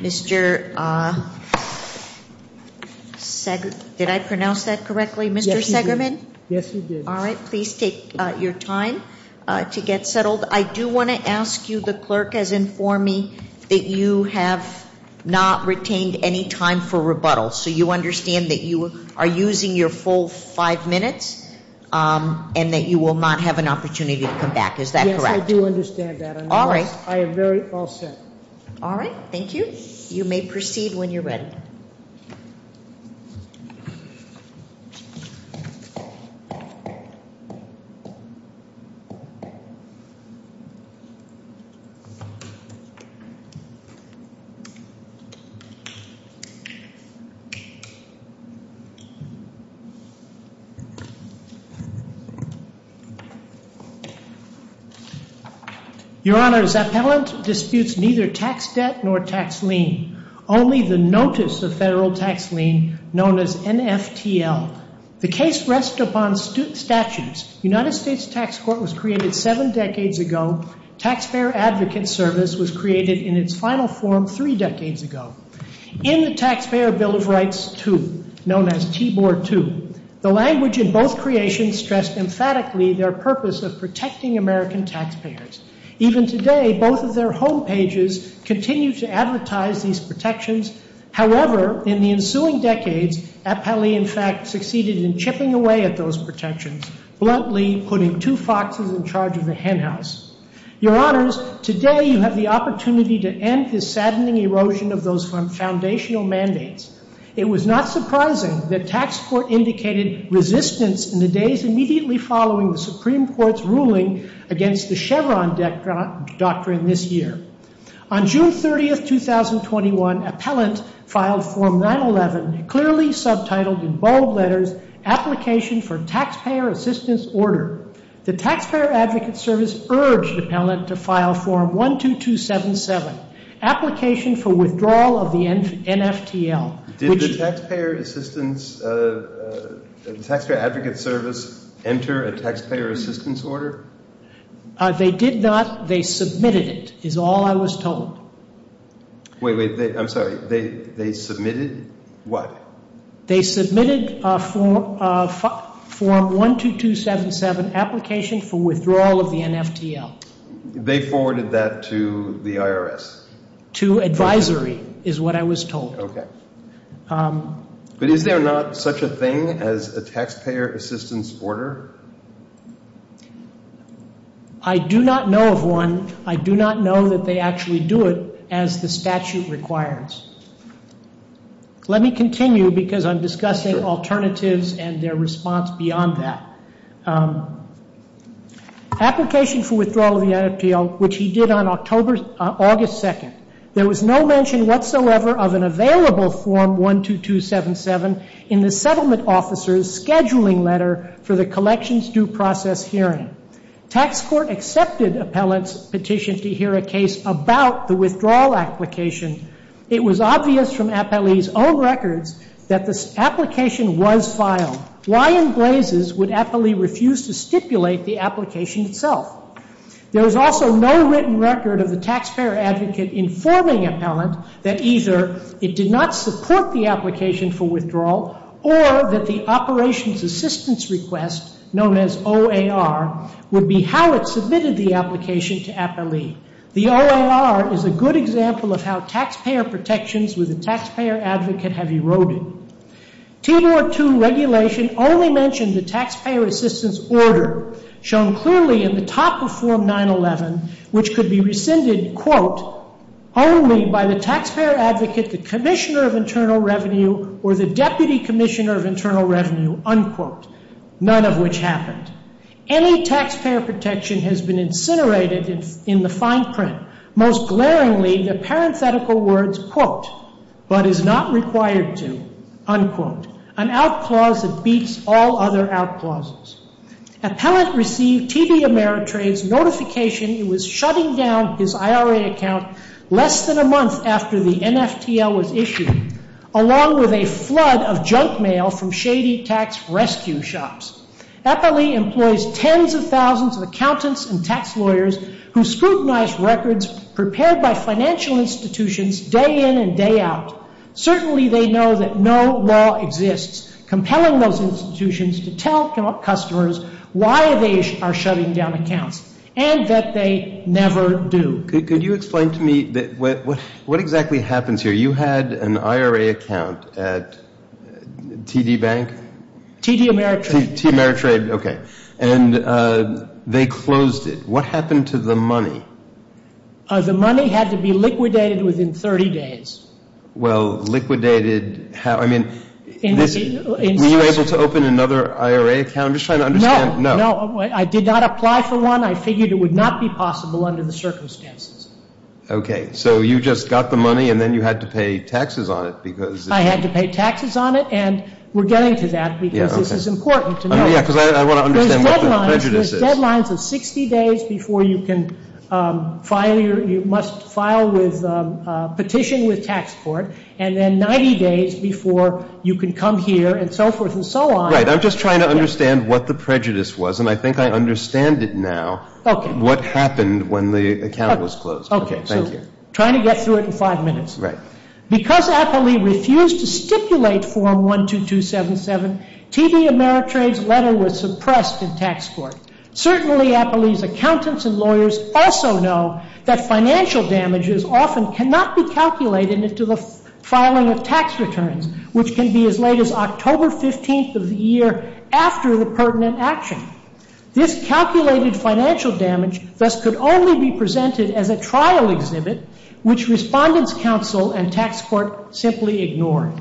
Mr. Seggerman, did I pronounce that correctly? Yes, you did. Please take your time to get settled. I do want to ask you, the clerk, as in for me, that you have not retained any of the information that you have submitted to me. You have not retained any time for rebuttal, so you understand that you are using your full five minutes and that you will not have an opportunity to come back, is that correct? Yes, I do understand that. All right. I am very all set. All right, thank you. You may proceed when you're ready. Your Honor, Zappellant disputes neither tax debt nor tax lien, only the notice of federal tax lien known as NFTL. The case rests upon statutes. United States Tax Court was created seven decades ago. Taxpayer Advocate Service was created in its final form three decades ago. In the Taxpayer Bill of Rights 2, known as TBOR 2, the language in both creations stressed emphatically their purpose of protecting American taxpayers. Even today, both of their home pages continue to advertise these protections. However, in the ensuing decades, Appellee, in fact, succeeded in chipping away at those protections, bluntly putting two foxes in charge of the henhouse. Your Honors, today you have the opportunity to end this saddening erosion of those foundational mandates. It was not surprising that Tax Court indicated resistance in the days immediately following the Supreme Court's ruling against the Chevron doctrine this year. On June 30, 2021, Appellant filed Form 911, clearly subtitled in bold letters, Application for Taxpayer Assistance Order. The Taxpayer Advocate Service urged Appellant to file Form 12277, Application for Withdrawal of the NFTL. Did the Taxpayer Advocate Service enter a Taxpayer Assistance Order? They did not. They submitted it, is all I was told. Wait, wait. I'm sorry. They submitted what? They submitted Form 12277, Application for Withdrawal of the NFTL. They forwarded that to the IRS? To advisory, is what I was told. Okay. But is there not such a thing as a Taxpayer Assistance Order? I do not know of one. I do not know that they actually do it as the statute requires. Let me continue because I'm discussing alternatives and their response beyond that. Application for Withdrawal of the NFTL, which he did on August 2nd. There was no mention whatsoever of an available Form 12277 in the settlement officer's scheduling letter for the collections due process hearing. Tax Court accepted Appellant's petition to hear a case about the withdrawal application. It was obvious from Appellee's own records that the application was filed. Why in blazes would Appellee refuse to stipulate the application itself? There was also no written record of the Taxpayer Advocate informing Appellant that either it did not support the application for withdrawal or that the Operations Assistance Request, known as OAR, would be how it submitted the application to Appellee. The OAR is a good example of how taxpayer protections with the Taxpayer Advocate have eroded. TOR 2 regulation only mentioned the Taxpayer Assistance Order, shown clearly in the top of Form 911, which could be rescinded, quote, only by the Taxpayer Advocate, the Commissioner of Internal Revenue, or the Deputy Commissioner of Internal Revenue, unquote. None of which happened. Any taxpayer protection has been incinerated in the fine print, most glaringly the parenthetical words, quote, but is not required to, unquote, an out clause that beats all other out clauses. Appellant received TV Ameritrade's notification he was shutting down his IRA account less than a month after the NFTL was issued, along with a flood of junk mail from shady tax rescue shops. Appellee employs tens of thousands of accountants and tax lawyers who scrutinize records prepared by financial institutions day in and day out. Certainly they know that no law exists compelling those institutions to tell customers why they are shutting down accounts and that they never do. Could you explain to me what exactly happens here? You had an IRA account at TD Bank? TD Ameritrade. TD Ameritrade. Okay. And they closed it. What happened to the money? The money had to be liquidated within 30 days. Well, liquidated how? I mean, were you able to open another IRA account? I'm just trying to understand. No. No. I did not apply for one. I figured it would not be possible under the circumstances. Okay. So you just got the money, and then you had to pay taxes on it because of it? I had to pay taxes on it, and we're getting to that because this is important to know. Yeah, because I want to understand what the prejudice is. There's deadlines. There's deadlines of 60 days before you can file your – you must file with – petition with tax court, and then 90 days before you can come here and so forth and so on. Right. I'm just trying to understand what the prejudice was, and I think I understand it now. Okay. What happened when the account was closed. Okay. Thank you. Okay. So trying to get through it in five minutes. Right. Because Apolli refused to stipulate Form 12277, T.D. Ameritrade's letter was suppressed in tax court. Certainly, Apolli's accountants and lawyers also know that financial damages often cannot be calculated until the filing of tax returns, which can be as late as October 15th of the year after the pertinent action. This calculated financial damage thus could only be presented as a trial exhibit, which respondents' counsel and tax court simply ignored.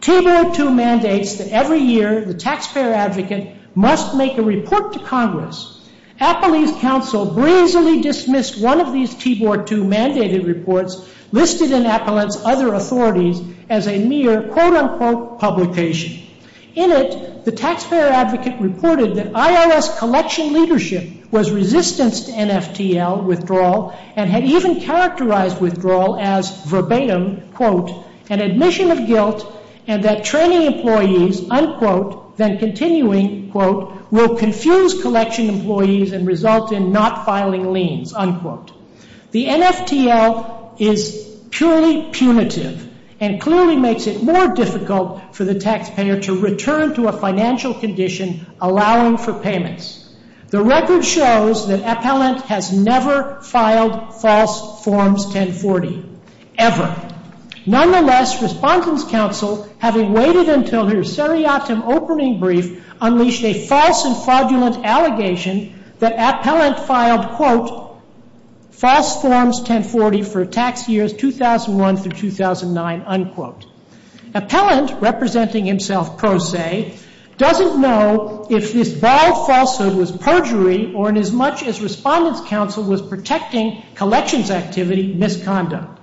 T-Board II mandates that every year the taxpayer advocate must make a report to Congress. Apolli's counsel brazenly dismissed one of these T-Board II mandated reports listed in Apolli's other authorities as a mere quote-unquote publication. In it, the taxpayer advocate reported that IRS collection leadership was resistant to NFTL withdrawal and had even characterized withdrawal as verbatim, quote, an admission of guilt and that training employees, unquote, then continuing, quote, will confuse collection employees and result in not filing liens, unquote. The NFTL is purely punitive and clearly makes it more difficult for the taxpayer to return to a financial condition allowing for payments. The record shows that Appellant has never filed false Forms 1040, ever. Nonetheless, respondents' counsel, having waited until her seriatim opening brief, unleashed a false and fraudulent allegation that Appellant filed, quote, false Forms 1040 for tax years 2001 through 2009, unquote. Appellant, representing himself pro se, doesn't know if this bold falsehood was perjury or, inasmuch as respondents' counsel was protecting collections activity, misconduct.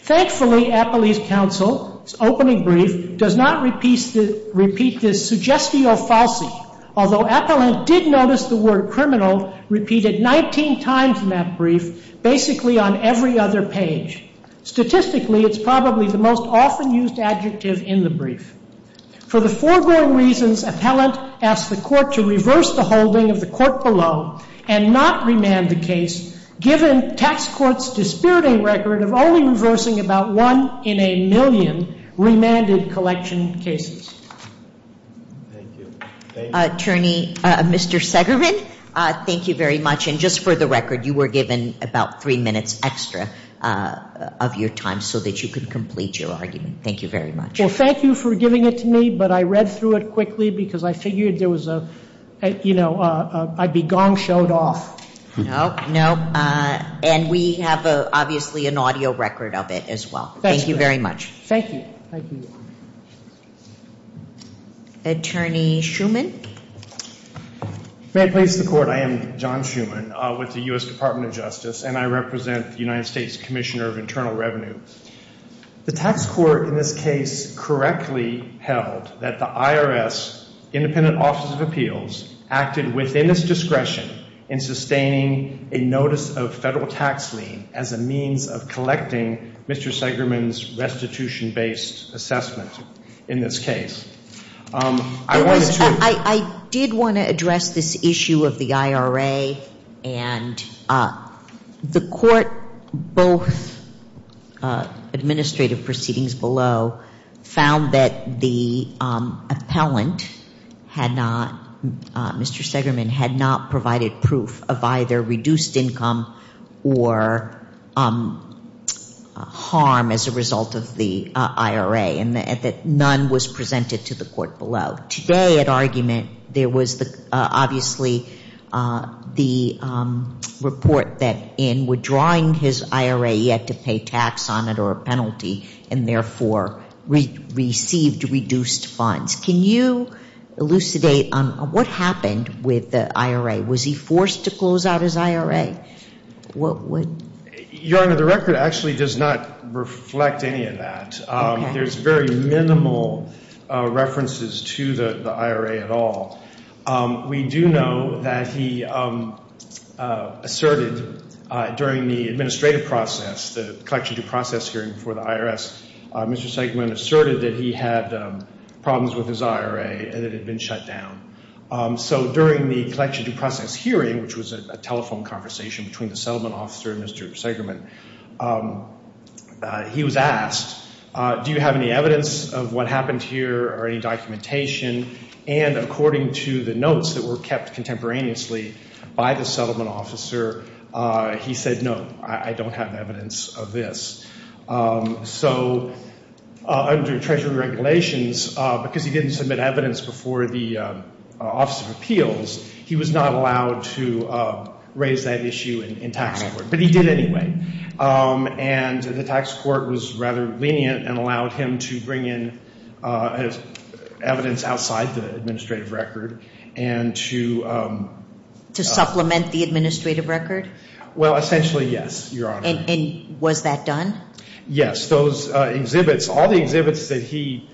Thankfully, Appellant's counsel's opening brief does not repeat this suggestio falsi, although Appellant did notice the word criminal repeated 19 times in that brief, basically on every other page. Statistically, it's probably the most often used adjective in the brief. For the foregoing reasons, Appellant asked the court to reverse the holding of the court below and not remand the case, given tax court's dispiriting record of only reversing about one in a million remanded collection cases. Attorney, Mr. Segrevin, thank you very much. And just for the record, you were given about three minutes extra of your time so that you could complete your argument. Thank you very much. Well, thank you for giving it to me, but I read through it quickly because I figured there was a, you know, I'd be gong showed off. No, no. And we have, obviously, an audio record of it as well. Thank you very much. Thank you. Thank you. Attorney Schuman. May it please the Court, I am John Schuman with the U.S. Department of Justice, and I represent the United States Commissioner of Internal Revenue. The tax court in this case correctly held that the IRS, Independent Office of Appeals, acted within its discretion in sustaining a notice of federal tax lien as a means of collecting Mr. Segrevin's restitution-based assessment in this case. I did want to address this issue of the IRA, and the Court, both administrative proceedings below, found that the appellant had not, Mr. Segrevin, had not provided proof of either reduced income or harm as a result of the IRA, and that none was presented to the Court below. Today, at argument, there was obviously the report that in withdrawing his IRA, he had to pay tax on it or a penalty, and therefore received reduced funds. Can you elucidate on what happened with the IRA? Was he forced to close out his IRA? Your Honor, the record actually does not reflect any of that. There's very minimal references to the IRA at all. We do know that he asserted during the administrative process, the collection due process hearing for the IRS, Mr. Segrevin asserted that he had problems with his IRA and it had been shut down. So during the collection due process hearing, which was a telephone conversation between the settlement officer and Mr. Segrevin, he was asked, do you have any evidence of what happened here or any documentation? And according to the notes that were kept contemporaneously by the settlement officer, he said, no, I don't have evidence of this. So under Treasury regulations, because he didn't submit evidence before the Office of Appeals, he was not allowed to raise that issue in tax court, but he did anyway. And the tax court was rather lenient and allowed him to bring in evidence outside the administrative record and to ‑‑ To supplement the administrative record? Well, essentially, yes, Your Honor. And was that done? Yes. Those exhibits, all the exhibits that he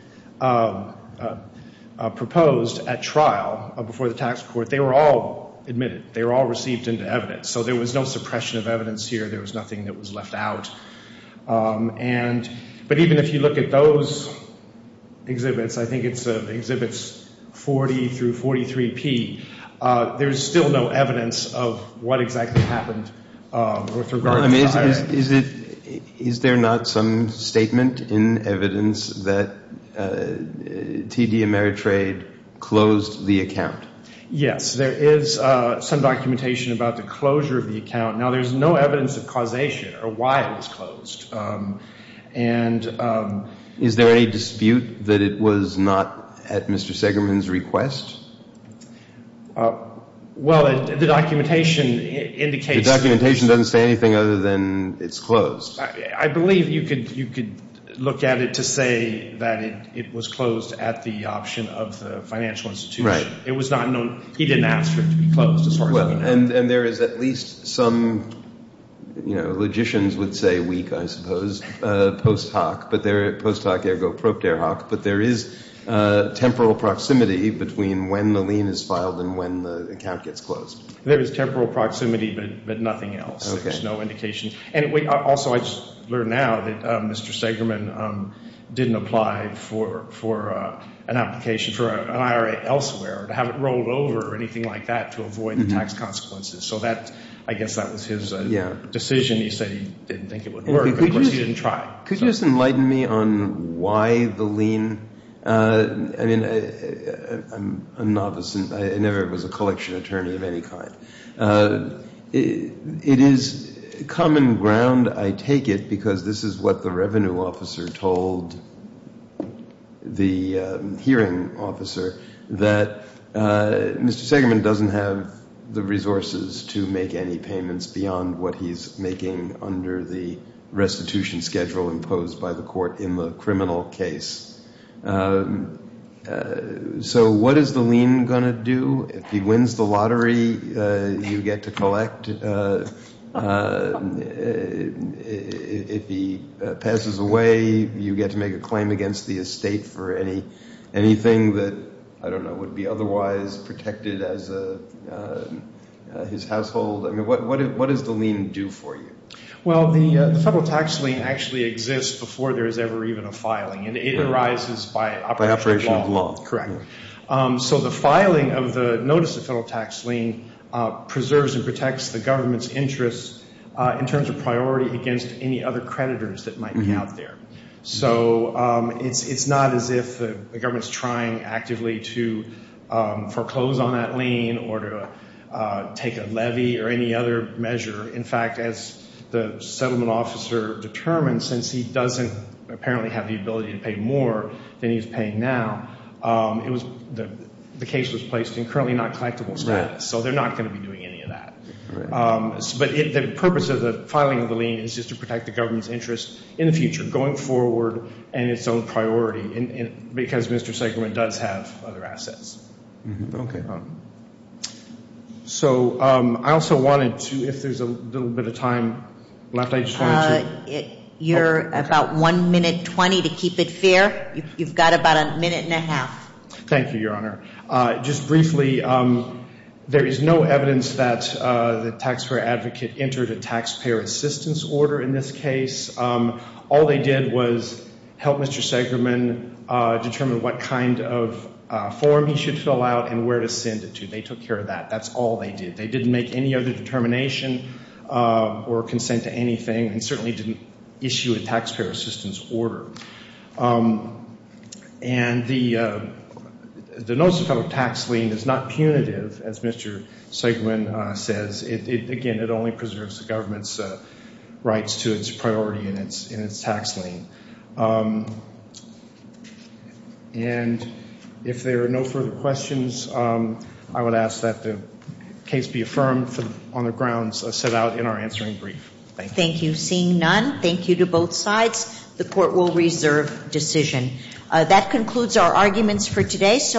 proposed at trial before the tax court, they were all admitted. They were all received into evidence. So there was no suppression of evidence here. There was nothing that was left out. But even if you look at those exhibits, I think it's Exhibits 40 through 43P, there's still no evidence of what exactly happened with regard to the IRA. Is there not some statement in evidence that TD Ameritrade closed the account? Yes. There is some documentation about the closure of the account. Now, there's no evidence of causation or why it was closed. And ‑‑ Is there any dispute that it was not at Mr. Segerman's request? Well, the documentation indicates ‑‑ The documentation doesn't say anything other than it's closed. I believe you could look at it to say that it was closed at the option of the financial institution. Right. It was not known. He didn't ask for it to be closed as far as I know. And there is at least some, you know, logicians would say weak, I suppose, post hoc, post hoc ergo propter hoc, but there is temporal proximity between when the lien is filed and when the account gets closed. There is temporal proximity, but nothing else. Okay. There's no indication. Also, I just learned now that Mr. Segerman didn't apply for an application for an IRA elsewhere, to have it rolled over or anything like that to avoid the tax consequences. So that, I guess, that was his decision. You say he didn't think it would work. Of course, he didn't try. Could you just enlighten me on why the lien? I mean, I'm a novice. I never was a collection attorney of any kind. It is common ground, I take it, because this is what the revenue officer told the hearing officer, that Mr. Segerman doesn't have the resources to make any payments beyond what he's making under the restitution schedule imposed by the court in the criminal case. So what is the lien going to do? If he wins the lottery, you get to collect. If he passes away, you get to make a claim against the estate for anything that, I don't know, would be otherwise protected as his household. I mean, what does the lien do for you? Well, the federal tax lien actually exists before there is ever even a filing, and it arises by operation of law. Correct. So the filing of the notice of federal tax lien preserves and protects the government's interests in terms of priority against any other creditors that might be out there. So it's not as if the government is trying actively to foreclose on that lien or to take a levy or any other measure. In fact, as the settlement officer determined, since he doesn't apparently have the ability to pay more than he's paying now, the case was placed in currently not collectible status. So they're not going to be doing any of that. But the purpose of the filing of the lien is just to protect the government's interests in the future, going forward, and its own priority, because Mr. Seggerman does have other assets. Okay. So I also wanted to, if there's a little bit of time left, I just wanted to... You're about 1 minute 20 to keep it fair. You've got about a minute and a half. Thank you, Your Honor. Just briefly, there is no evidence that the taxpayer advocate entered a taxpayer assistance order in this case. All they did was help Mr. Seggerman determine what kind of form he should fill out and where to send it to. They took care of that. That's all they did. They didn't make any other determination or consent to anything and certainly didn't issue a taxpayer assistance order. And the notice of federal tax lien is not punitive, as Mr. Seggerman says. Again, it only preserves the government's rights to its priority in its tax lien. And if there are no further questions, I would ask that the case be affirmed on the grounds set out in our answering brief. Thank you. Thank you. Seeing none, thank you to both sides. The court will reserve decision. That concludes our arguments for today.